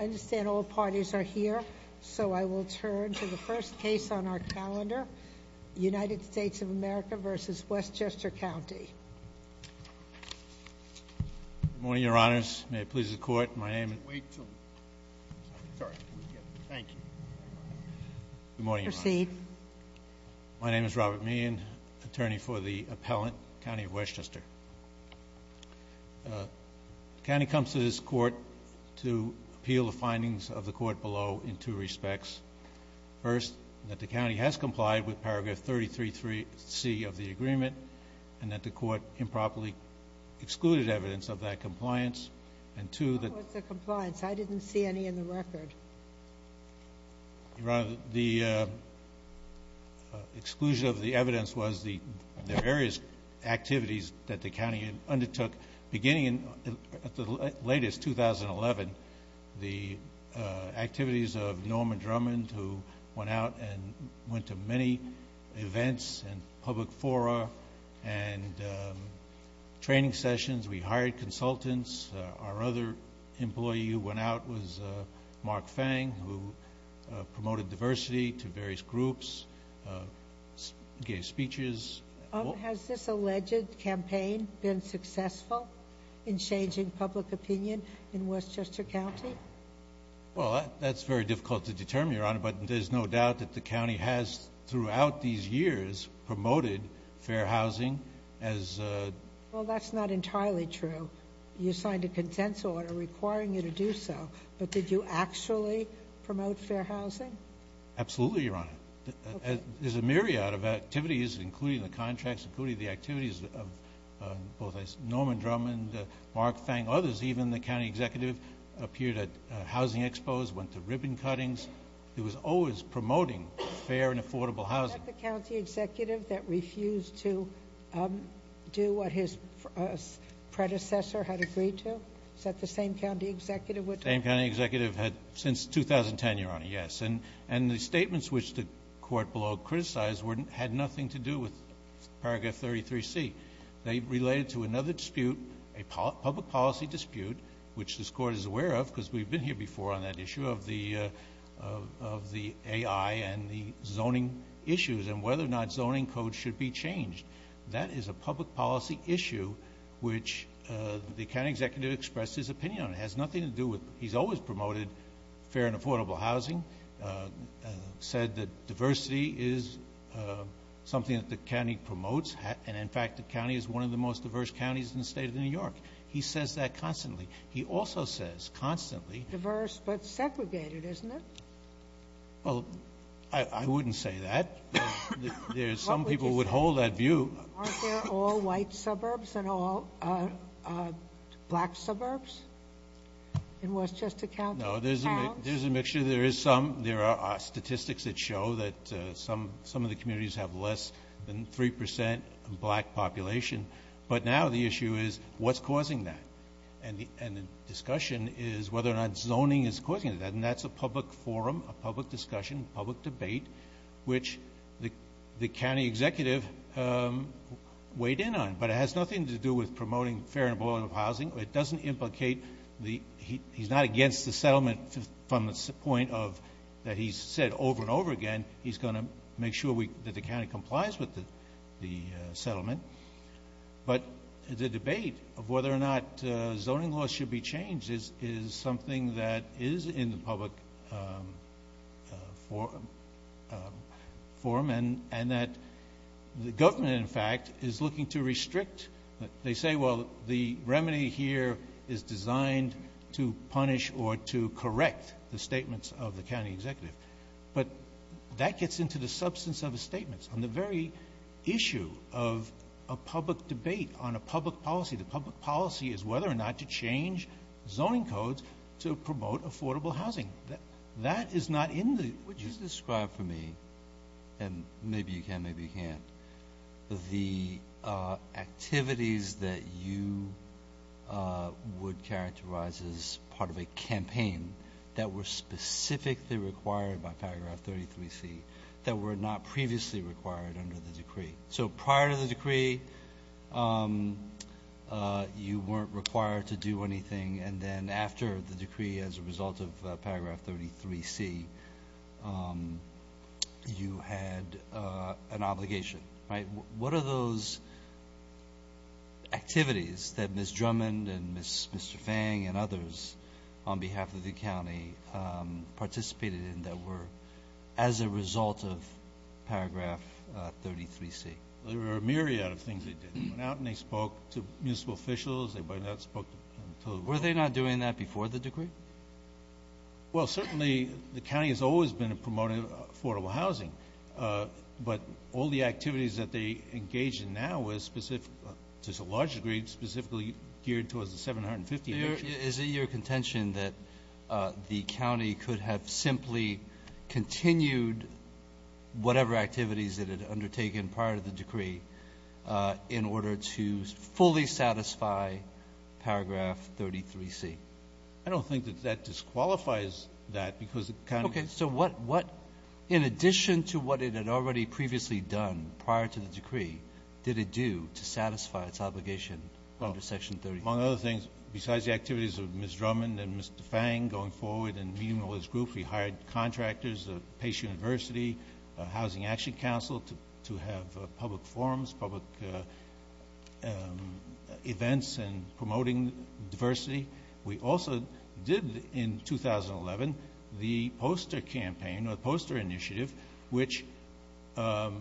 understand all parties are here so I will turn to the first case on our calendar United States of America v. Westchester County morning your honors may it please the court my name my name is Robert me and attorney for the findings of the court below in two respects first that the county has complied with paragraph 33 3c of the agreement and that the court improperly excluded evidence of that compliance and to the compliance I didn't see any in the record rather the exclusion of the evidence was the various activities that the county undertook beginning in the latest 2011 the activities of Norman Drummond who went out and went to many events and public fora and training sessions we hired consultants our other employee who went out was Mark Fang who been successful in changing public opinion in Westchester County well that's very difficult to determine your honor but there's no doubt that the county has throughout these years promoted fair housing as well that's not entirely true you signed a consent order requiring you to do so but did you actually promote fair housing absolutely your honor there's a myriad of activities including the contracts including the activities of both Norman Drummond Mark Fang others even the county executive appeared at housing expos went to ribbon cuttings it was always promoting fair and affordable housing the county executive that refused to do what his predecessor had agreed to set the same county executive with a county executive had since 2010 your honor yes and and the statements which the court below criticized wouldn't had nothing to do with paragraph 33 C they related to another dispute a public policy dispute which this court is aware of because we've been here before on that issue of the of the AI and the zoning issues and whether or not zoning code should be changed that is a public policy issue which the county executive expressed his opinion has nothing to do with he's always promoted fair and affordable housing said that diversity is something that the county promotes and in fact the county is one of the most diverse counties in the state of New York he says that constantly he also says constantly diverse but segregated isn't it well I wouldn't say that there's some people would hold that view they're all white suburbs and all black suburbs in Westchester County no there's a mixture there is some there are statistics that show that some some of the communities have less than 3% black population but now the issue is what's causing that and and the discussion is whether or not zoning is causing that and that's a public forum a public discussion public debate which the the county executive weighed in on but it has nothing to do with promoting fair and affordable housing it doesn't implicate the he's not against the settlement from the point of that he said over and over again he's going to make sure we that the county complies with the the settlement but the debate of whether or not zoning laws should be changed is is something that is in the public forum for men and that the government in fact is looking to remedy here is designed to punish or to correct the statements of the county executive but that gets into the substance of the statements on the very issue of a public debate on a public policy the public policy is whether or not to change zoning codes to promote affordable housing that that is not in the which is described for me and maybe you can maybe you can't the activities that you would characterize as part of a campaign that were specifically required by paragraph 33 C that were not previously required under the decree so prior to the decree you weren't required to do anything and then after the decree as a result of paragraph 33 C you had an obligation right what are those activities that miss Drummond and miss mr. Fang and others on behalf of the county participated in that were as a result of paragraph 33 C there were a myriad of things they did out and they spoke to municipal officials they might not spoke were they not doing that before the decree well certainly the county has always been a promoter of affordable housing but all the activities that they engage in now is specific there's a large degree specifically geared towards the 750 is it your contention that the county could have simply continued whatever activities that had undertaken prior to the decree in order to fully satisfy paragraph 33 C I don't think that that disqualifies that because okay so what what in addition to what it had already previously done prior to the decree did it do to satisfy its obligation under section 30 among other things besides the activities of miss Drummond and mr. Fang going forward and meeting all this group we hired contractors of Pace University Housing Action Council to have public forums public events and promoting diversity we also did in 2011 the poster campaign or poster initiative which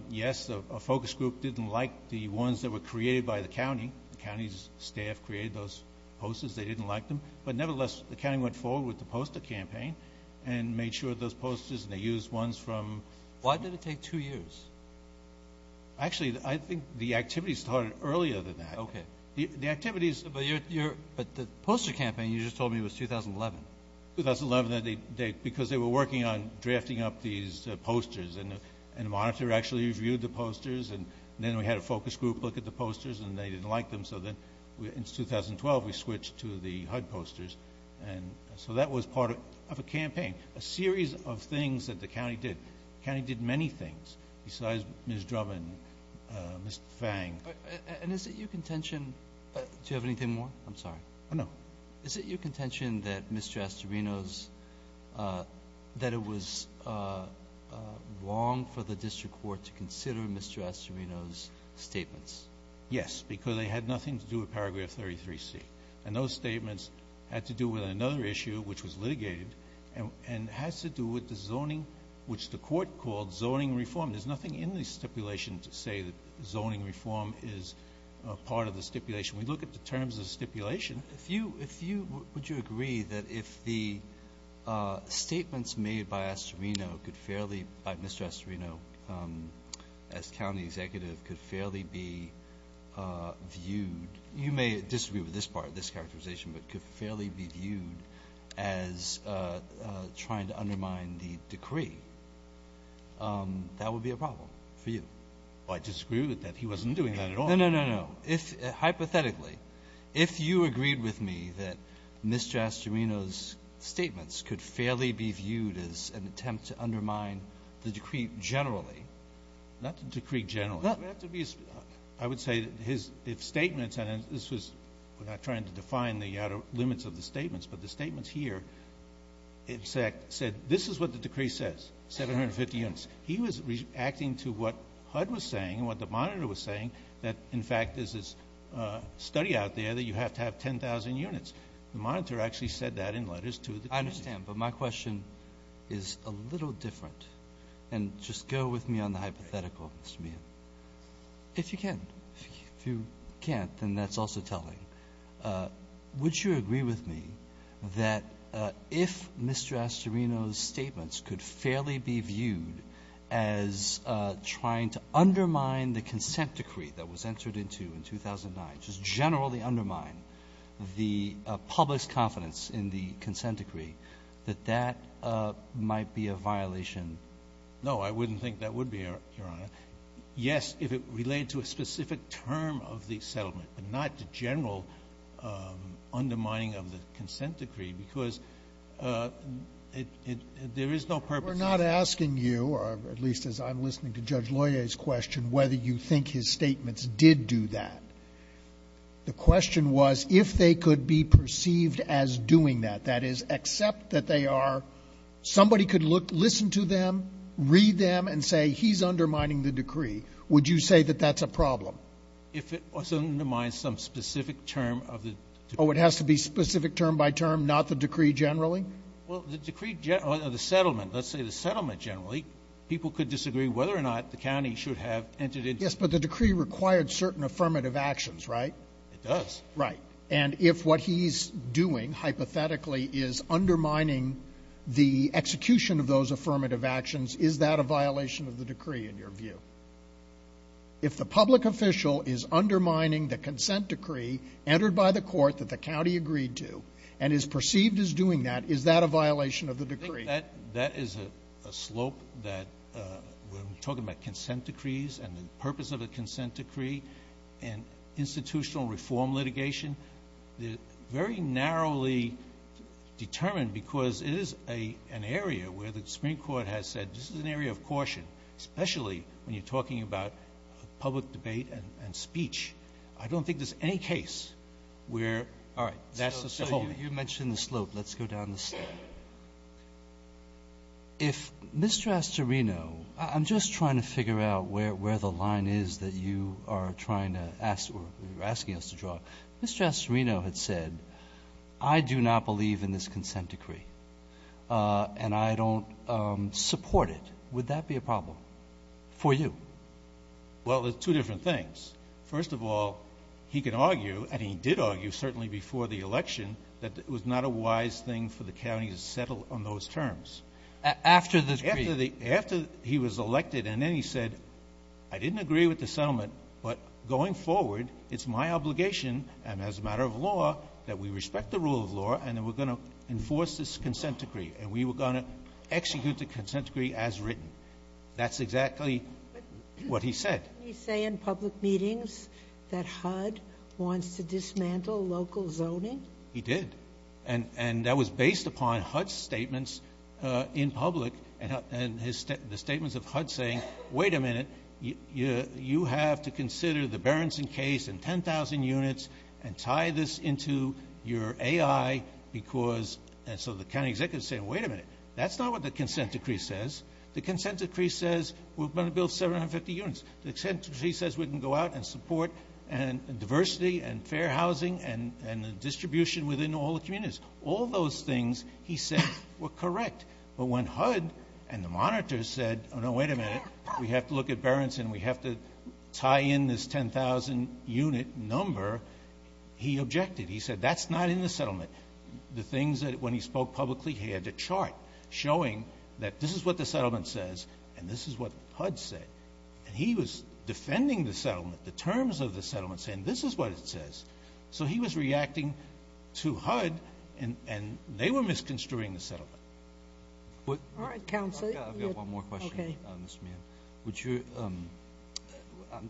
yes a focus group didn't like the ones that were created by the county the county's staff created those posters they didn't like them but nevertheless the county went forward with the poster campaign and made sure those posters they use ones from why did it take two years actually I think the activity started earlier than that okay the activities but you're but the poster campaign you just told me was 2011 2011 that they because they were working on posters and and monitor actually reviewed the posters and then we had a focus group look at the posters and they didn't like them so then in 2012 we switched to the HUD posters and so that was part of a campaign a series of things that the county did can he did many things besides miss Drummond mr. Fang and is it your contention do you have anything more I'm sorry no is it your contention that mr. Astorino's that it was wrong for the district court to consider mr. Astorino's statements yes because they had nothing to do a paragraph 33 C and those statements had to do with another issue which was litigated and and has to do with the zoning which the court called zoning reform there's nothing in the stipulation to say that zoning reform is part of the stipulation we look at the terms of stipulation if you if you would you agree that if the statements made by Astorino could fairly by mr. Astorino as county executive could fairly be viewed you may disagree with this part of this characterization but could fairly be viewed as trying to undermine the decree that would be a problem for you I just screwed that he wasn't doing that at all no no no no if hypothetically if you agreed with me that mr. Astorino's statements could fairly be viewed as an attempt to undermine the decree generally not to decree general I would say that his if statements and this was we're not trying to define the outer limits of the statements but the statements here exact said this is what the decree says 750 units he was reacting to what HUD was saying that in fact this is study out there that you have to have 10,000 units the monitor actually said that in letters to the I understand but my question is a little different and just go with me on the hypothetical mr. Meehan if you can if you can't then that's also telling would you agree with me that if mr. Astorino's statements could fairly be viewed as trying to generally undermine the public's confidence in the consent decree that that might be a violation no I wouldn't think that would be here yes if it related to a specific term of the settlement but not the general undermining of the consent decree because there is no purpose we're not asking you or at least as I'm listening to judge lawyers question whether you think his statements did do that the question was if they could be perceived as doing that that is except that they are somebody could look listen to them read them and say he's undermining the decree would you say that that's a problem if it was undermined some specific term of the oh it has to be specific term by term not the decree generally well the decree of the settlement let's say the settlement generally people could disagree whether or not the county should have entered it yes but the decree required certain affirmative actions right right and if what he's doing hypothetically is undermining the execution of those affirmative actions is that a violation of the decree in your view if the public official is undermining the consent decree entered by the court that the county agreed to and is perceived as doing that is that a violation of the decree that that is a slope that we're talking about consent decrees and the purpose of a consent decree and institutional reform litigation the very narrowly determined because it is a an area where the Supreme Court has said this is an area of caution especially when you're talking about public debate and speech I don't think there's any case where all right that's the whole you mentioned the slope let's go down the slope if Mr. Astorino I'm just trying to figure out where where the line is that you are trying to ask or asking us to draw Mr. Astorino had said I do not believe in this consent decree and I don't support it would that be a problem for you well there's two different things first of all he can argue and he did argue certainly before the election that it was not a wise thing for the county to settle on those terms after the after he was elected and then he said I didn't agree with the settlement but going forward it's my obligation and as a matter of law that we respect the rule of law and then we're going to enforce this consent decree and we were going to execute the consent decree as written that's exactly what he said you say in public meetings that HUD wants to dismantle local zoning he did and and that was based upon HUD statements in public and his statements of HUD saying wait a minute you you have to consider the Berenson case and 10,000 units and tie this into your AI because and so the county executive said wait a minute that's not what the consent decree says the consent decree says we're going to build 750 units the consent decree says we can go out and support and diversity and fair housing and and the distribution within all the communities all those things he said were correct but when HUD and the monitors said oh no wait a minute we have to look at Berenson we have to tie in this 10,000 unit number he objected he said that's not in the settlement the things that when he spoke publicly he had to chart showing that this is what the settlement says and this is what HUD said and he was defending the settlement the terms of the settlement saying this is what it says so he was reacting to HUD and and they were misconstruing the settlement what all right counsel I've got one more question on this man would you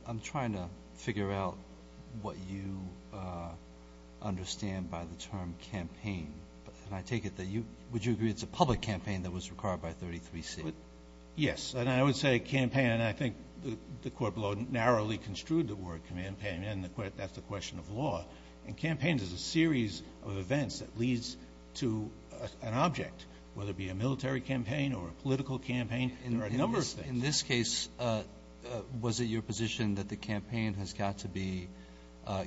I'm trying to figure out what you understand by the term campaign and I take it that you would you agree it's a public campaign that was required by 33 C yes and I would say campaign and I think the court below narrowly construed the word campaign and the court that's a question of law and campaigns is a series of events that leads to an object whether it be a military campaign or a political campaign and there are numbers in this case was it your position that the campaign has got to be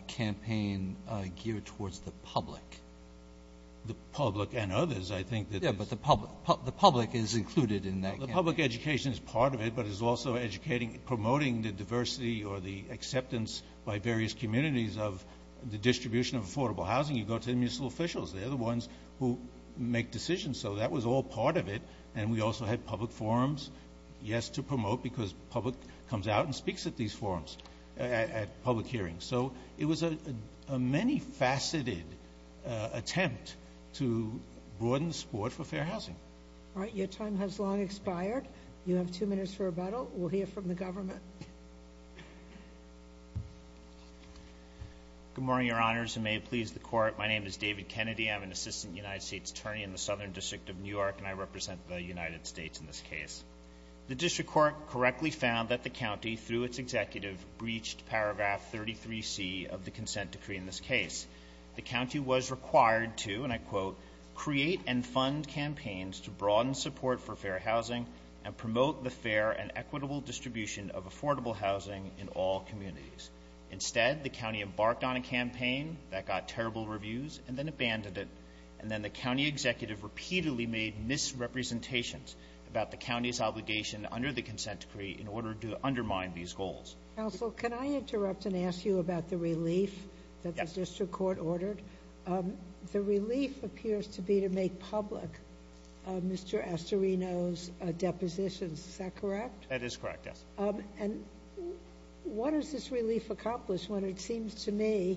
campaign geared towards the public the public and others I think that yeah but the public the public is included in that public education is part of it but is also educating promoting the diversity or the acceptance by various communities of the distribution of affordable housing you go to the municipal officials they're the ones who make decisions so that was all part of it and we also had public forums yes to promote because public comes out and speaks at these forums at public hearings so it was a many faceted attempt to broaden the sport for fair housing all right your time has long expired you have two minutes for a battle we'll hear from the government good morning your honors and may it please the court my name is David Kennedy I'm an assistant United States attorney in the Southern District of New York and I represent the United States in this case the district court correctly found that the county through its executive breached paragraph 33 C of the consent decree in this case the county was required to and I quote create and fund campaigns to broaden support for fair housing and promote the fair and equitable distribution of affordable housing in all communities instead the county embarked on a campaign that got terrible reviews and then abandoned it and then the county executive repeatedly made misrepresentations about the county's obligation under the consent decree in order to undermine these goals also can I interrupt and ask you about the relief that the district court ordered the relief appears to be to make public Mr. Estorino's depositions is that correct that is correct yes and what does this relief accomplish when it seems to me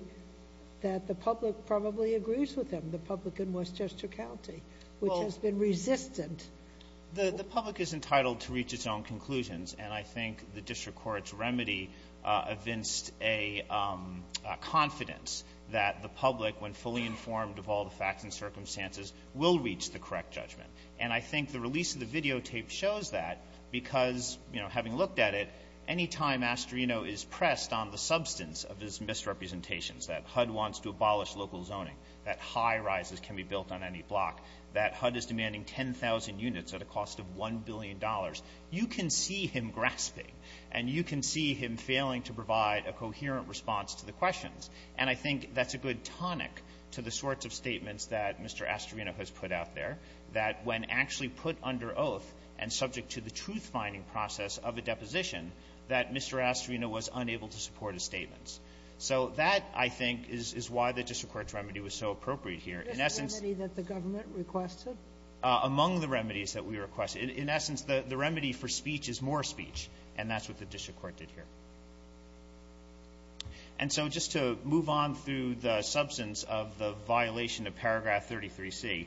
that the public probably agrees with them the public in Westchester County which has been resistant the public is entitled to reach its own conclusions and I think the district court's remedy evinced a confidence that the public when fully informed of all the facts and circumstances will reach the correct judgment and I think the release of the videotape shows that because you know having looked at it any time Estorino is pressed on the substance of his misrepresentations that HUD wants to abolish local zoning that high rises can be built on any block that HUD is demanding 10,000 units at a cost of 1 billion dollars you can see him grasping and you can see him failing to provide a coherent response to the questions and I think that's a good tonic to the sorts of statements that Mr. Estorino has put out there that when actually put under oath and subject to the truth-finding process of a deposition that Mr. Estorino was unable to support his statements so that I think is why the district remedy was so appropriate here in essence that the government requested among the remedies that we request in essence the the remedy for speech is more speech and that's what the district court did here and so just to move on through the substance of the violation of paragraph 33c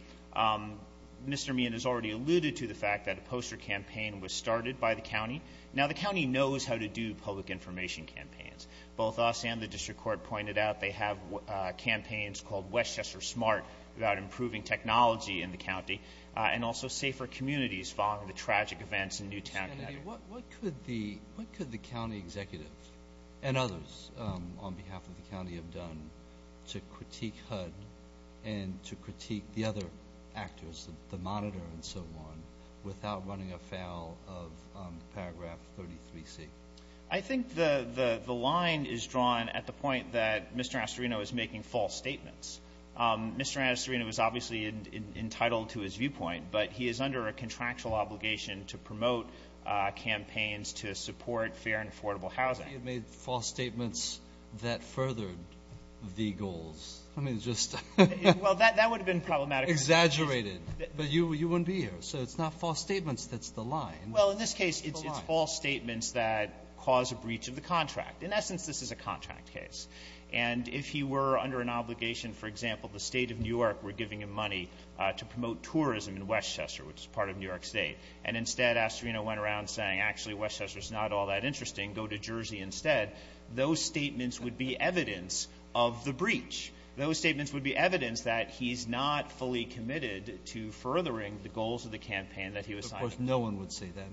Mr. Meehan has already alluded to the fact that a poster campaign was started by the county now the county knows how to do public information campaigns both us and the district court pointed out they have uh campaigns called westchester smart about improving technology in the county and also safer communities following the tragic events in newtown what what could the what could the county executive and others um on behalf of the county have done to critique hud and to critique the other actors the monitor and so on without running afoul of um paragraph 33c I think the the line is drawn at the point that Mr. Estorino is making false statements um Mr. Estorino was obviously entitled to his viewpoint but he is under a contractual obligation to promote uh campaigns to support fair and affordable housing you made false statements that furthered the goals I mean just well that that would have been problematic exaggerated but you you wouldn't be here so it's not false statements that's the line well in this case it's false statements that cause a breach of the contract in essence this is a contract case and if he were under an obligation for example the state of new york were giving him money uh to promote tourism in westchester which is part of new york state and instead Estorino went around saying actually westchester is not all that interesting go to jersey instead those statements would be evidence of the breach those statements would be evidence that he's not fully committed to furthering the goals of the campaign that he was of course no one would say that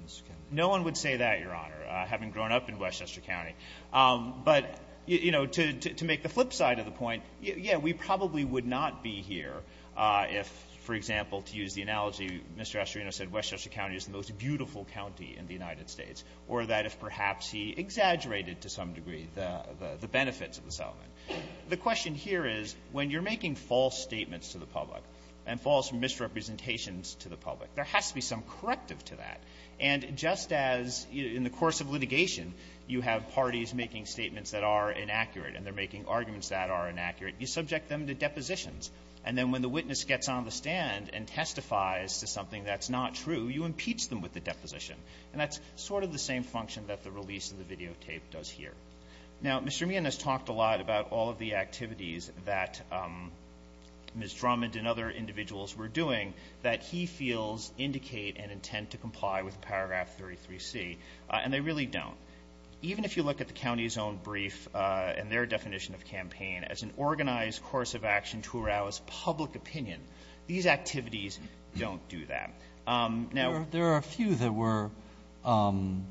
no one would say that your honor having grown up in westchester county um but you know to to make the flip side of the point yeah we probably would not be here uh if for example to use the analogy Mr. Estorino said westchester county is the most beautiful county in the united states or that if perhaps he exaggerated to some degree the the benefits of the settlement the question here is when you're making false statements to the public and false misrepresentations to the public there has to be some corrective to that and just as in the course of litigation you have parties making statements that are inaccurate and they're making arguments that are inaccurate you subject them to depositions and then when the witness gets on the stand and testifies to something that's not true you impeach them with the deposition and that's sort of the same function that the release of the videotape does here now Mr. Meehan has talked a lot about all of the activities that um Ms. Drummond and other paragraph 33c and they really don't even if you look at the county's own brief uh and their definition of campaign as an organized course of action to arouse public opinion these activities don't do that um now there are a few that were um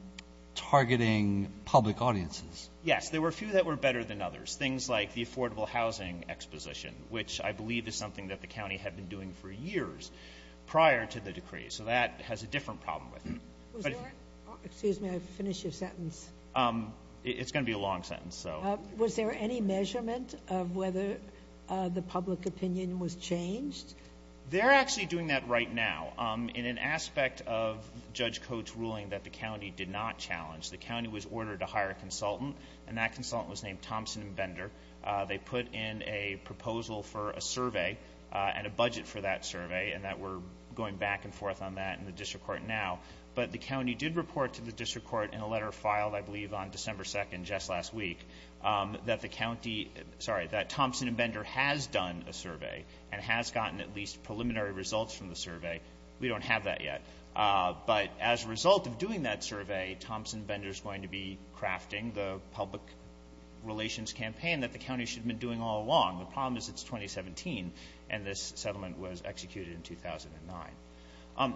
targeting public audiences yes there were a few that were better than others things like the affordable housing exposition which i believe is something that the county had been doing for years prior to the decree so that has a different problem with it excuse me i finish your sentence um it's going to be a long sentence so was there any measurement of whether uh the public opinion was changed they're actually doing that right now um in an aspect of judge coach ruling that the county did not challenge the county was ordered to hire a consultant and that consultant was named thompson and bender uh they put in a proposal for a survey uh and a budget for that survey and that we're going back and forth on that in the district now but the county did report to the district court in a letter filed i believe on december second just last week um that the county sorry that thompson and bender has done a survey and has gotten at least preliminary results from the survey we don't have that yet uh but as a result of doing that survey thompson bender is going to be crafting the public relations campaign that the county should have been doing all along the problem is it's 2017 and this settlement was executed in um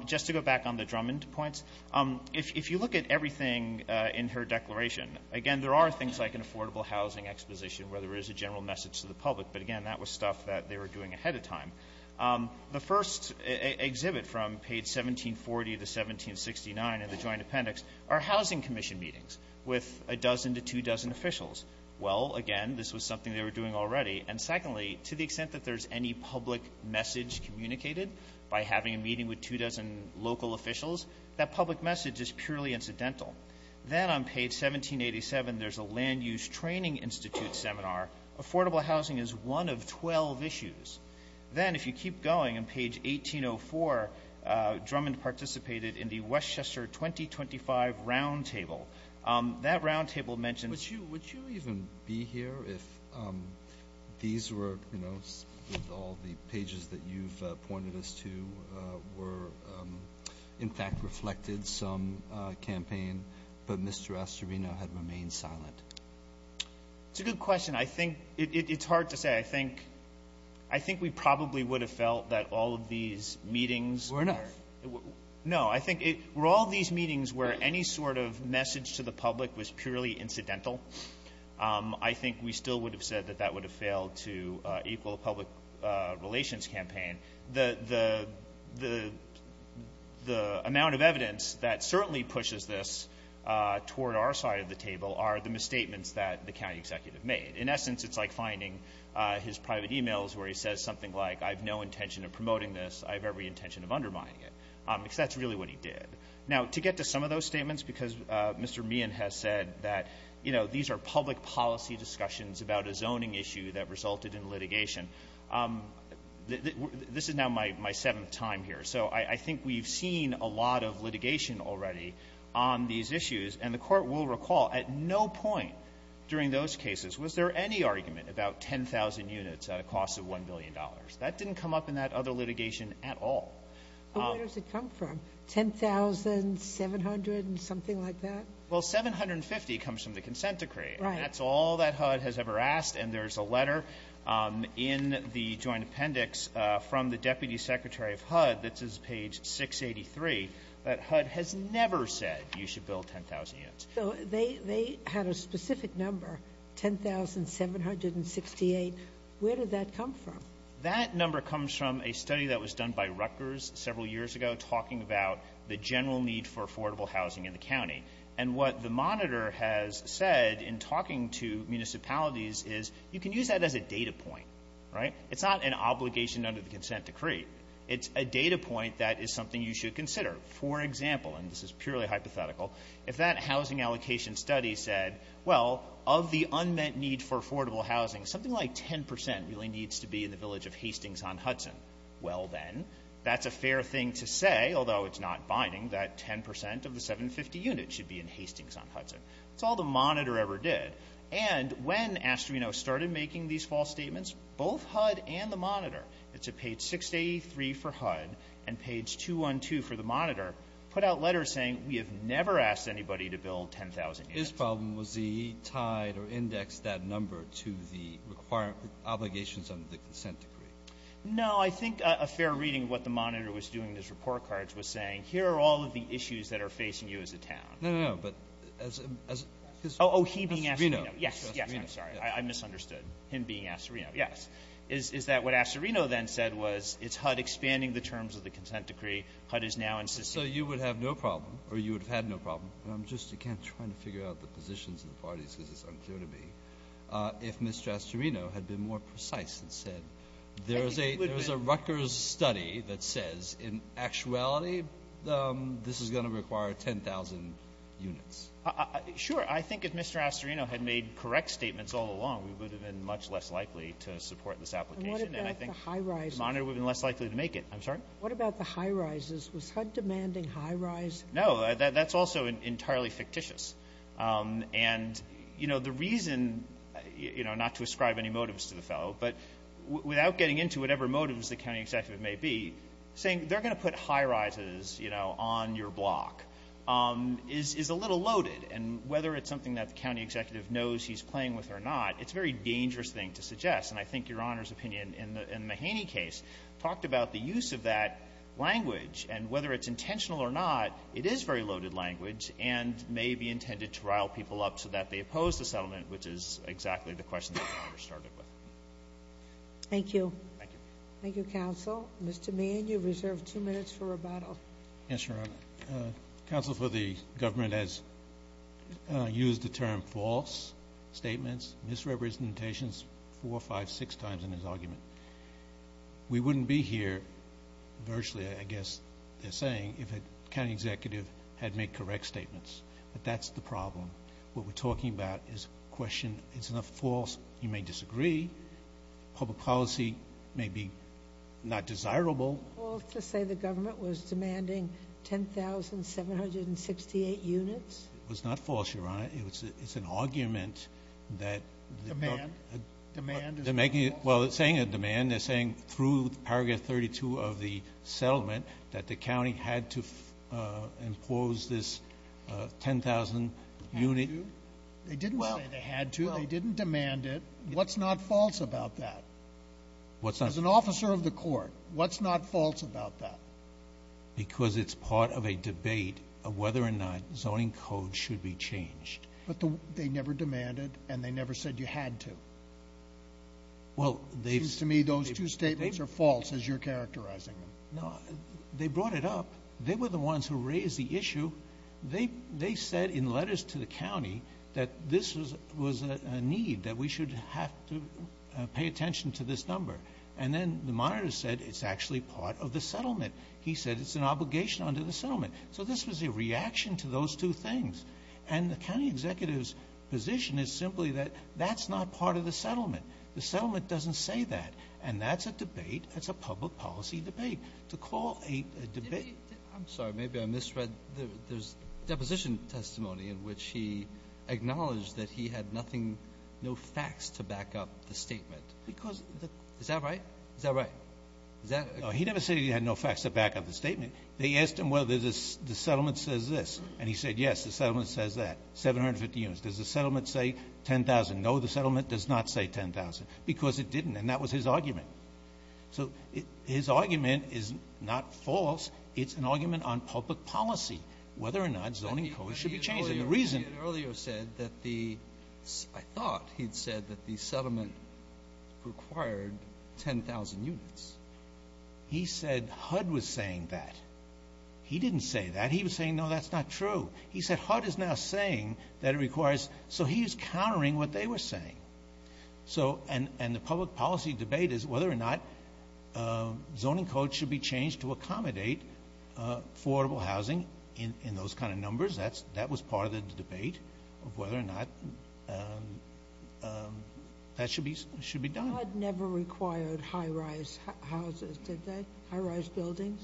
if if you look at everything uh in her declaration again there are things like an affordable housing exposition where there is a general message to the public but again that was stuff that they were doing ahead of time um the first exhibit from page 1740 to 1769 in the joint appendix are housing commission meetings with a dozen to two dozen officials well again this was something they were doing already and secondly to the extent that there's any public message communicated by having a meeting with two dozen local officials that public message is purely incidental then on page 1787 there's a land use training institute seminar affordable housing is one of 12 issues then if you keep going on page 1804 uh drummond participated in the westchester 2025 round table um that round table mentioned would you would you even be here if um these were you know with all the pages that you've pointed us to uh were um in fact reflected some uh campaign but mr astrovino had remained silent it's a good question i think it's hard to say i think i think we probably would have felt that all of these meetings were enough no i think it were all these meetings where any sort of message to the public was purely incidental um i think we still would have said that that would have failed to uh equal public uh relations campaign the the the the amount of evidence that certainly pushes this uh toward our side of the table are the misstatements that the county executive made in essence it's like finding uh his private emails where he says something like i've no intention of promoting this i have every intention of undermining it um because that's really what he did now to get to some of public policy discussions about a zoning issue that resulted in litigation um this is now my my seventh time here so i i think we've seen a lot of litigation already on these issues and the court will recall at no point during those cases was there any argument about 10 000 units at a cost of 1 billion dollars that didn't come up in that other litigation at all where does it come from 10 700 and something like that well 750 comes from the consent decree that's all that hud has ever asked and there's a letter um in the joint appendix uh from the deputy secretary of hud this is page 683 that hud has never said you should build 10 000 units so they they had a specific number 10 768 where did that come from that number comes from a study that was done by Rutgers several years ago talking about the general need for affordable housing in the county and what the monitor has said in talking to municipalities is you can use that as a data point right it's not an obligation under the consent decree it's a data point that is something you should consider for example and this is purely hypothetical if that housing allocation study said well of the unmet need for affordable housing something like 10 really needs to be in the thing to say although it's not binding that 10 of the 750 units should be in Hastings on Hudson it's all the monitor ever did and when Astorino started making these false statements both hud and the monitor it's a page 683 for hud and page 212 for the monitor put out letters saying we have never asked anybody to build 10 000 this problem was he tied or indexed that number to the obligations under the consent decree no i think a fair reading of what the monitor was doing his report cards was saying here are all of the issues that are facing you as a town no no but as as oh he being as you know yes yes i'm sorry i misunderstood him being asked yes is is that what Astorino then said was it's hud expanding the terms of the consent decree hud is now insisting so you would have no problem or you would have had no problem and i'm just again trying to figure out the positions of the parties because it's unclear to me uh if mr astorino had been more precise and said there is a there's a rutgers study that says in actuality um this is going to require 10 000 units uh sure i think if mr astorino had made correct statements all along we would have been much less likely to support this application and i think the high rise monitor would have been less likely to make it i'm sorry what about the high rises was hud demanding high rise no that's also entirely fictitious um and you know the reason you know not to ascribe any motives to the fellow but without getting into whatever motives the county executive may be saying they're going to put high rises you know on your block um is is a little loaded and whether it's something that the county executive knows he's playing with or not it's a very dangerous thing to suggest and i think your honor's opinion in the in the haney case talked about the use of language and whether it's intentional or not it is very loaded language and may be intended to rile people up so that they oppose the settlement which is exactly the question that i first started with thank you thank you thank you counsel mr man you've reserved two minutes for rebuttal yes your honor council for the government has used the term false statements misrepresentations four or five six times in his argument we wouldn't be here virtually i guess they're saying if a county executive had made correct statements but that's the problem what we're talking about is question it's enough false you may disagree public policy may be not desirable well to say the government was demanding 10 768 units it was not false your honor it was it's an argument that demand demand they're making it well it's saying a demand they're saying through paragraph 32 of the settlement that the county had to uh impose this uh 10 000 unit they didn't say they had to they didn't demand it what's not false about that what's not as an officer of the court what's not false about that because it's part of a debate of whether or not zoning code should be changed but they never demanded and they never said you had to well they've to me those two statements are false as you're characterizing them no they brought it up they were the ones who raised the issue they they said in letters to the county that this was was a need that we should have to pay attention to this number and then the monitor said it's actually part of the settlement he said it's an obligation under the settlement so this was a reaction to those two things and the county executive's position is simply that that's not part of the settlement the settlement doesn't say that and that's a debate that's a public policy debate to call a debate i'm sorry maybe i misread there's deposition testimony in which he acknowledged that he had nothing no facts to back up the statement because is that right is that right is that no he never said he had no facts to back up the statement they asked him whether this the settlement says this and he said yes the settlement says that 750 units does the settlement say 10,000 no the settlement does not say 10,000 because it didn't and that was his argument so his argument is not false it's an argument on public policy whether or not zoning code should be changed and the reason earlier said that the i thought he'd said that the settlement required 10,000 units he said hud was saying that he didn't say that he was saying no that's not true he said hud is now saying that it requires so he's countering what they were saying so and and the public policy debate is whether or not uh zoning code should be changed to accommodate uh affordable housing in in those kind of numbers that's that was part of the debate of whether or not um um that should be should be hud never required high-rise houses did they high-rise buildings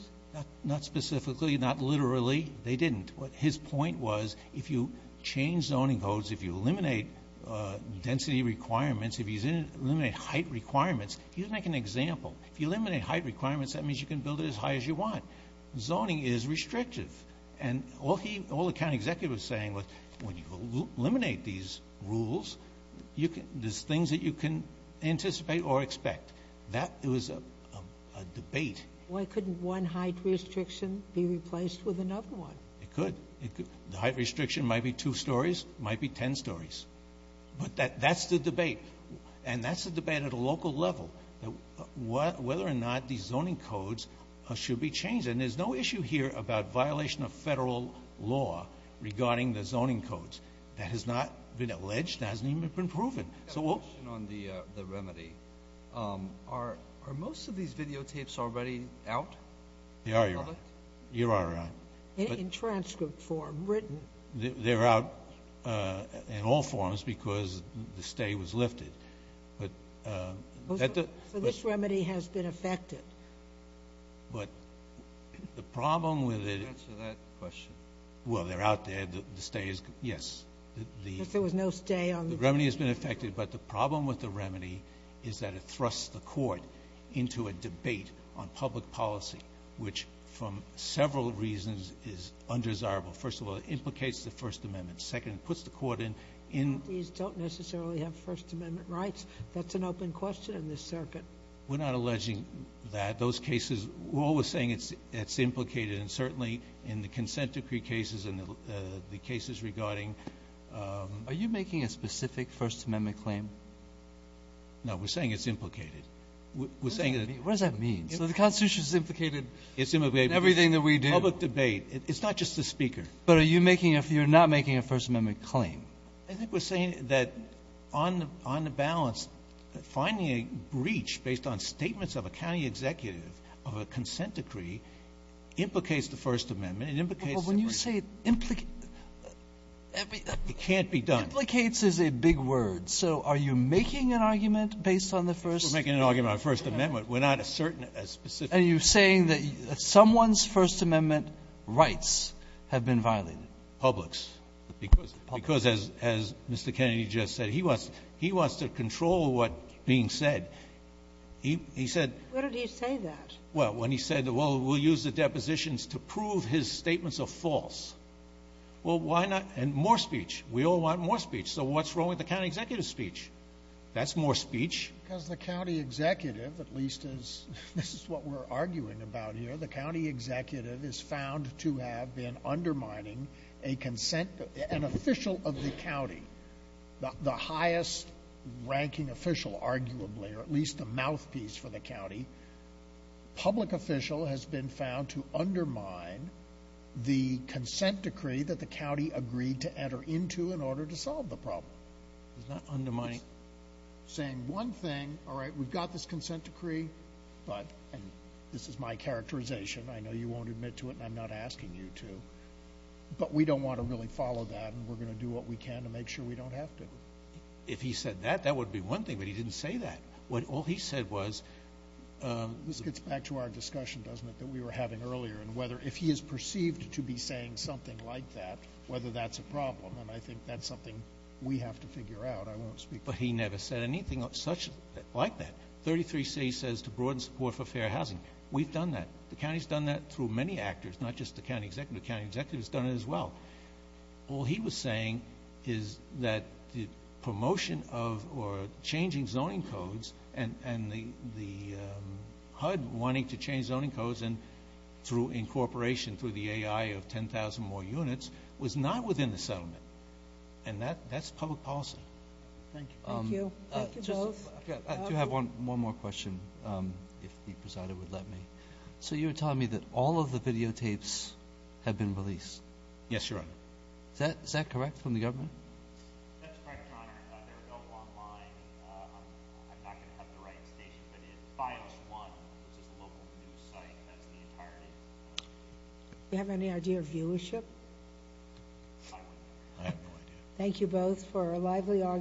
not specifically not literally they didn't what his point was if you change zoning codes if you eliminate uh density requirements if he's in eliminate height requirements he doesn't make an example if you eliminate height requirements that means you can build it as high as you want zoning is restrictive and all he all the county executive was saying was when you eliminate these rules you can there's things that you can anticipate or expect that it was a debate why couldn't one height restriction be replaced with another one it could it could the height restriction might be two stories might be 10 stories but that that's the debate and that's the debate at a local level that what whether or not these zoning codes should be changed and there's no issue here about violation of federal law regarding the zoning codes that has not been alleged hasn't even been proven so we'll on the uh the remedy um are are most of these videotapes already out they are you're all right you're all right in transcript form written they're out uh in all forms because the stay was lifted but uh so this remedy has been affected but the problem with it answer that question well they're out there the stay is yes the if there was no stay on the remedy has been affected but the problem with the remedy is that it thrusts the court into a debate on public policy which from several reasons is undesirable first of all implicates the first amendment second puts the court in in these don't necessarily have first amendment rights that's an open question in this circuit we're not alleging that those cases we're always saying it's it's implicated and certainly in the consent decree cases and the cases regarding um are you making a specific first amendment claim no we're saying it's implicated we're saying what does that mean so the constitution is implicated it's in everything that we do public debate it's not just the speaker but are you making if you're not making a first amendment claim i think we're saying that on the on the balance finding a breach based on statements of a county executive of a consent decree implicates the first amendment it implicates when you say it implicate every it can't be done implicates is a big word so are you making an argument based on the first we're making an argument first amendment we're not a certain a specific are you saying that someone's first amendment rights have been violated publics because as as mr kennedy just said he wants he wants to control what being said he he said what did he say that well when he said well we'll use the depositions to prove his statements are false well why not and more speech we all want more speech so what's wrong with the county executive speech that's more speech because the county executive at least is this is what we're arguing about here the county executive is found to have been undermining a consent an official of the county the highest ranking official arguably or at least the mouthpiece for the county public official has been found to undermine the consent decree that the county agreed to enter into in order to solve the problem it's not undermining saying one thing all right we've this consent decree but and this is my characterization i know you won't admit to it and i'm not asking you to but we don't want to really follow that and we're going to do what we can to make sure we don't have to if he said that that would be one thing but he didn't say that what all he said was this gets back to our discussion doesn't it that we were having earlier and whether if he is perceived to be saying something like that whether that's a problem and i think that's something we have to figure out i won't speak but he never said anything such like that 33c says to broaden support for fair housing we've done that the county's done that through many actors not just the county executive county executive has done it as well all he was saying is that the promotion of or changing zoning codes and and the the hud wanting to change zoning codes and through incorporation through the ai of 10 000 more units was not within the settlement and that that's public policy thank you thank you i do have one more question um if the presider would let me so you were telling me that all of the videotapes have been released yes your honor is that is that correct from the government that's correct your honor they're available online i'm not going to have the right station but in bios one which is the local news site you have any idea of viewership thank you both for a lively argument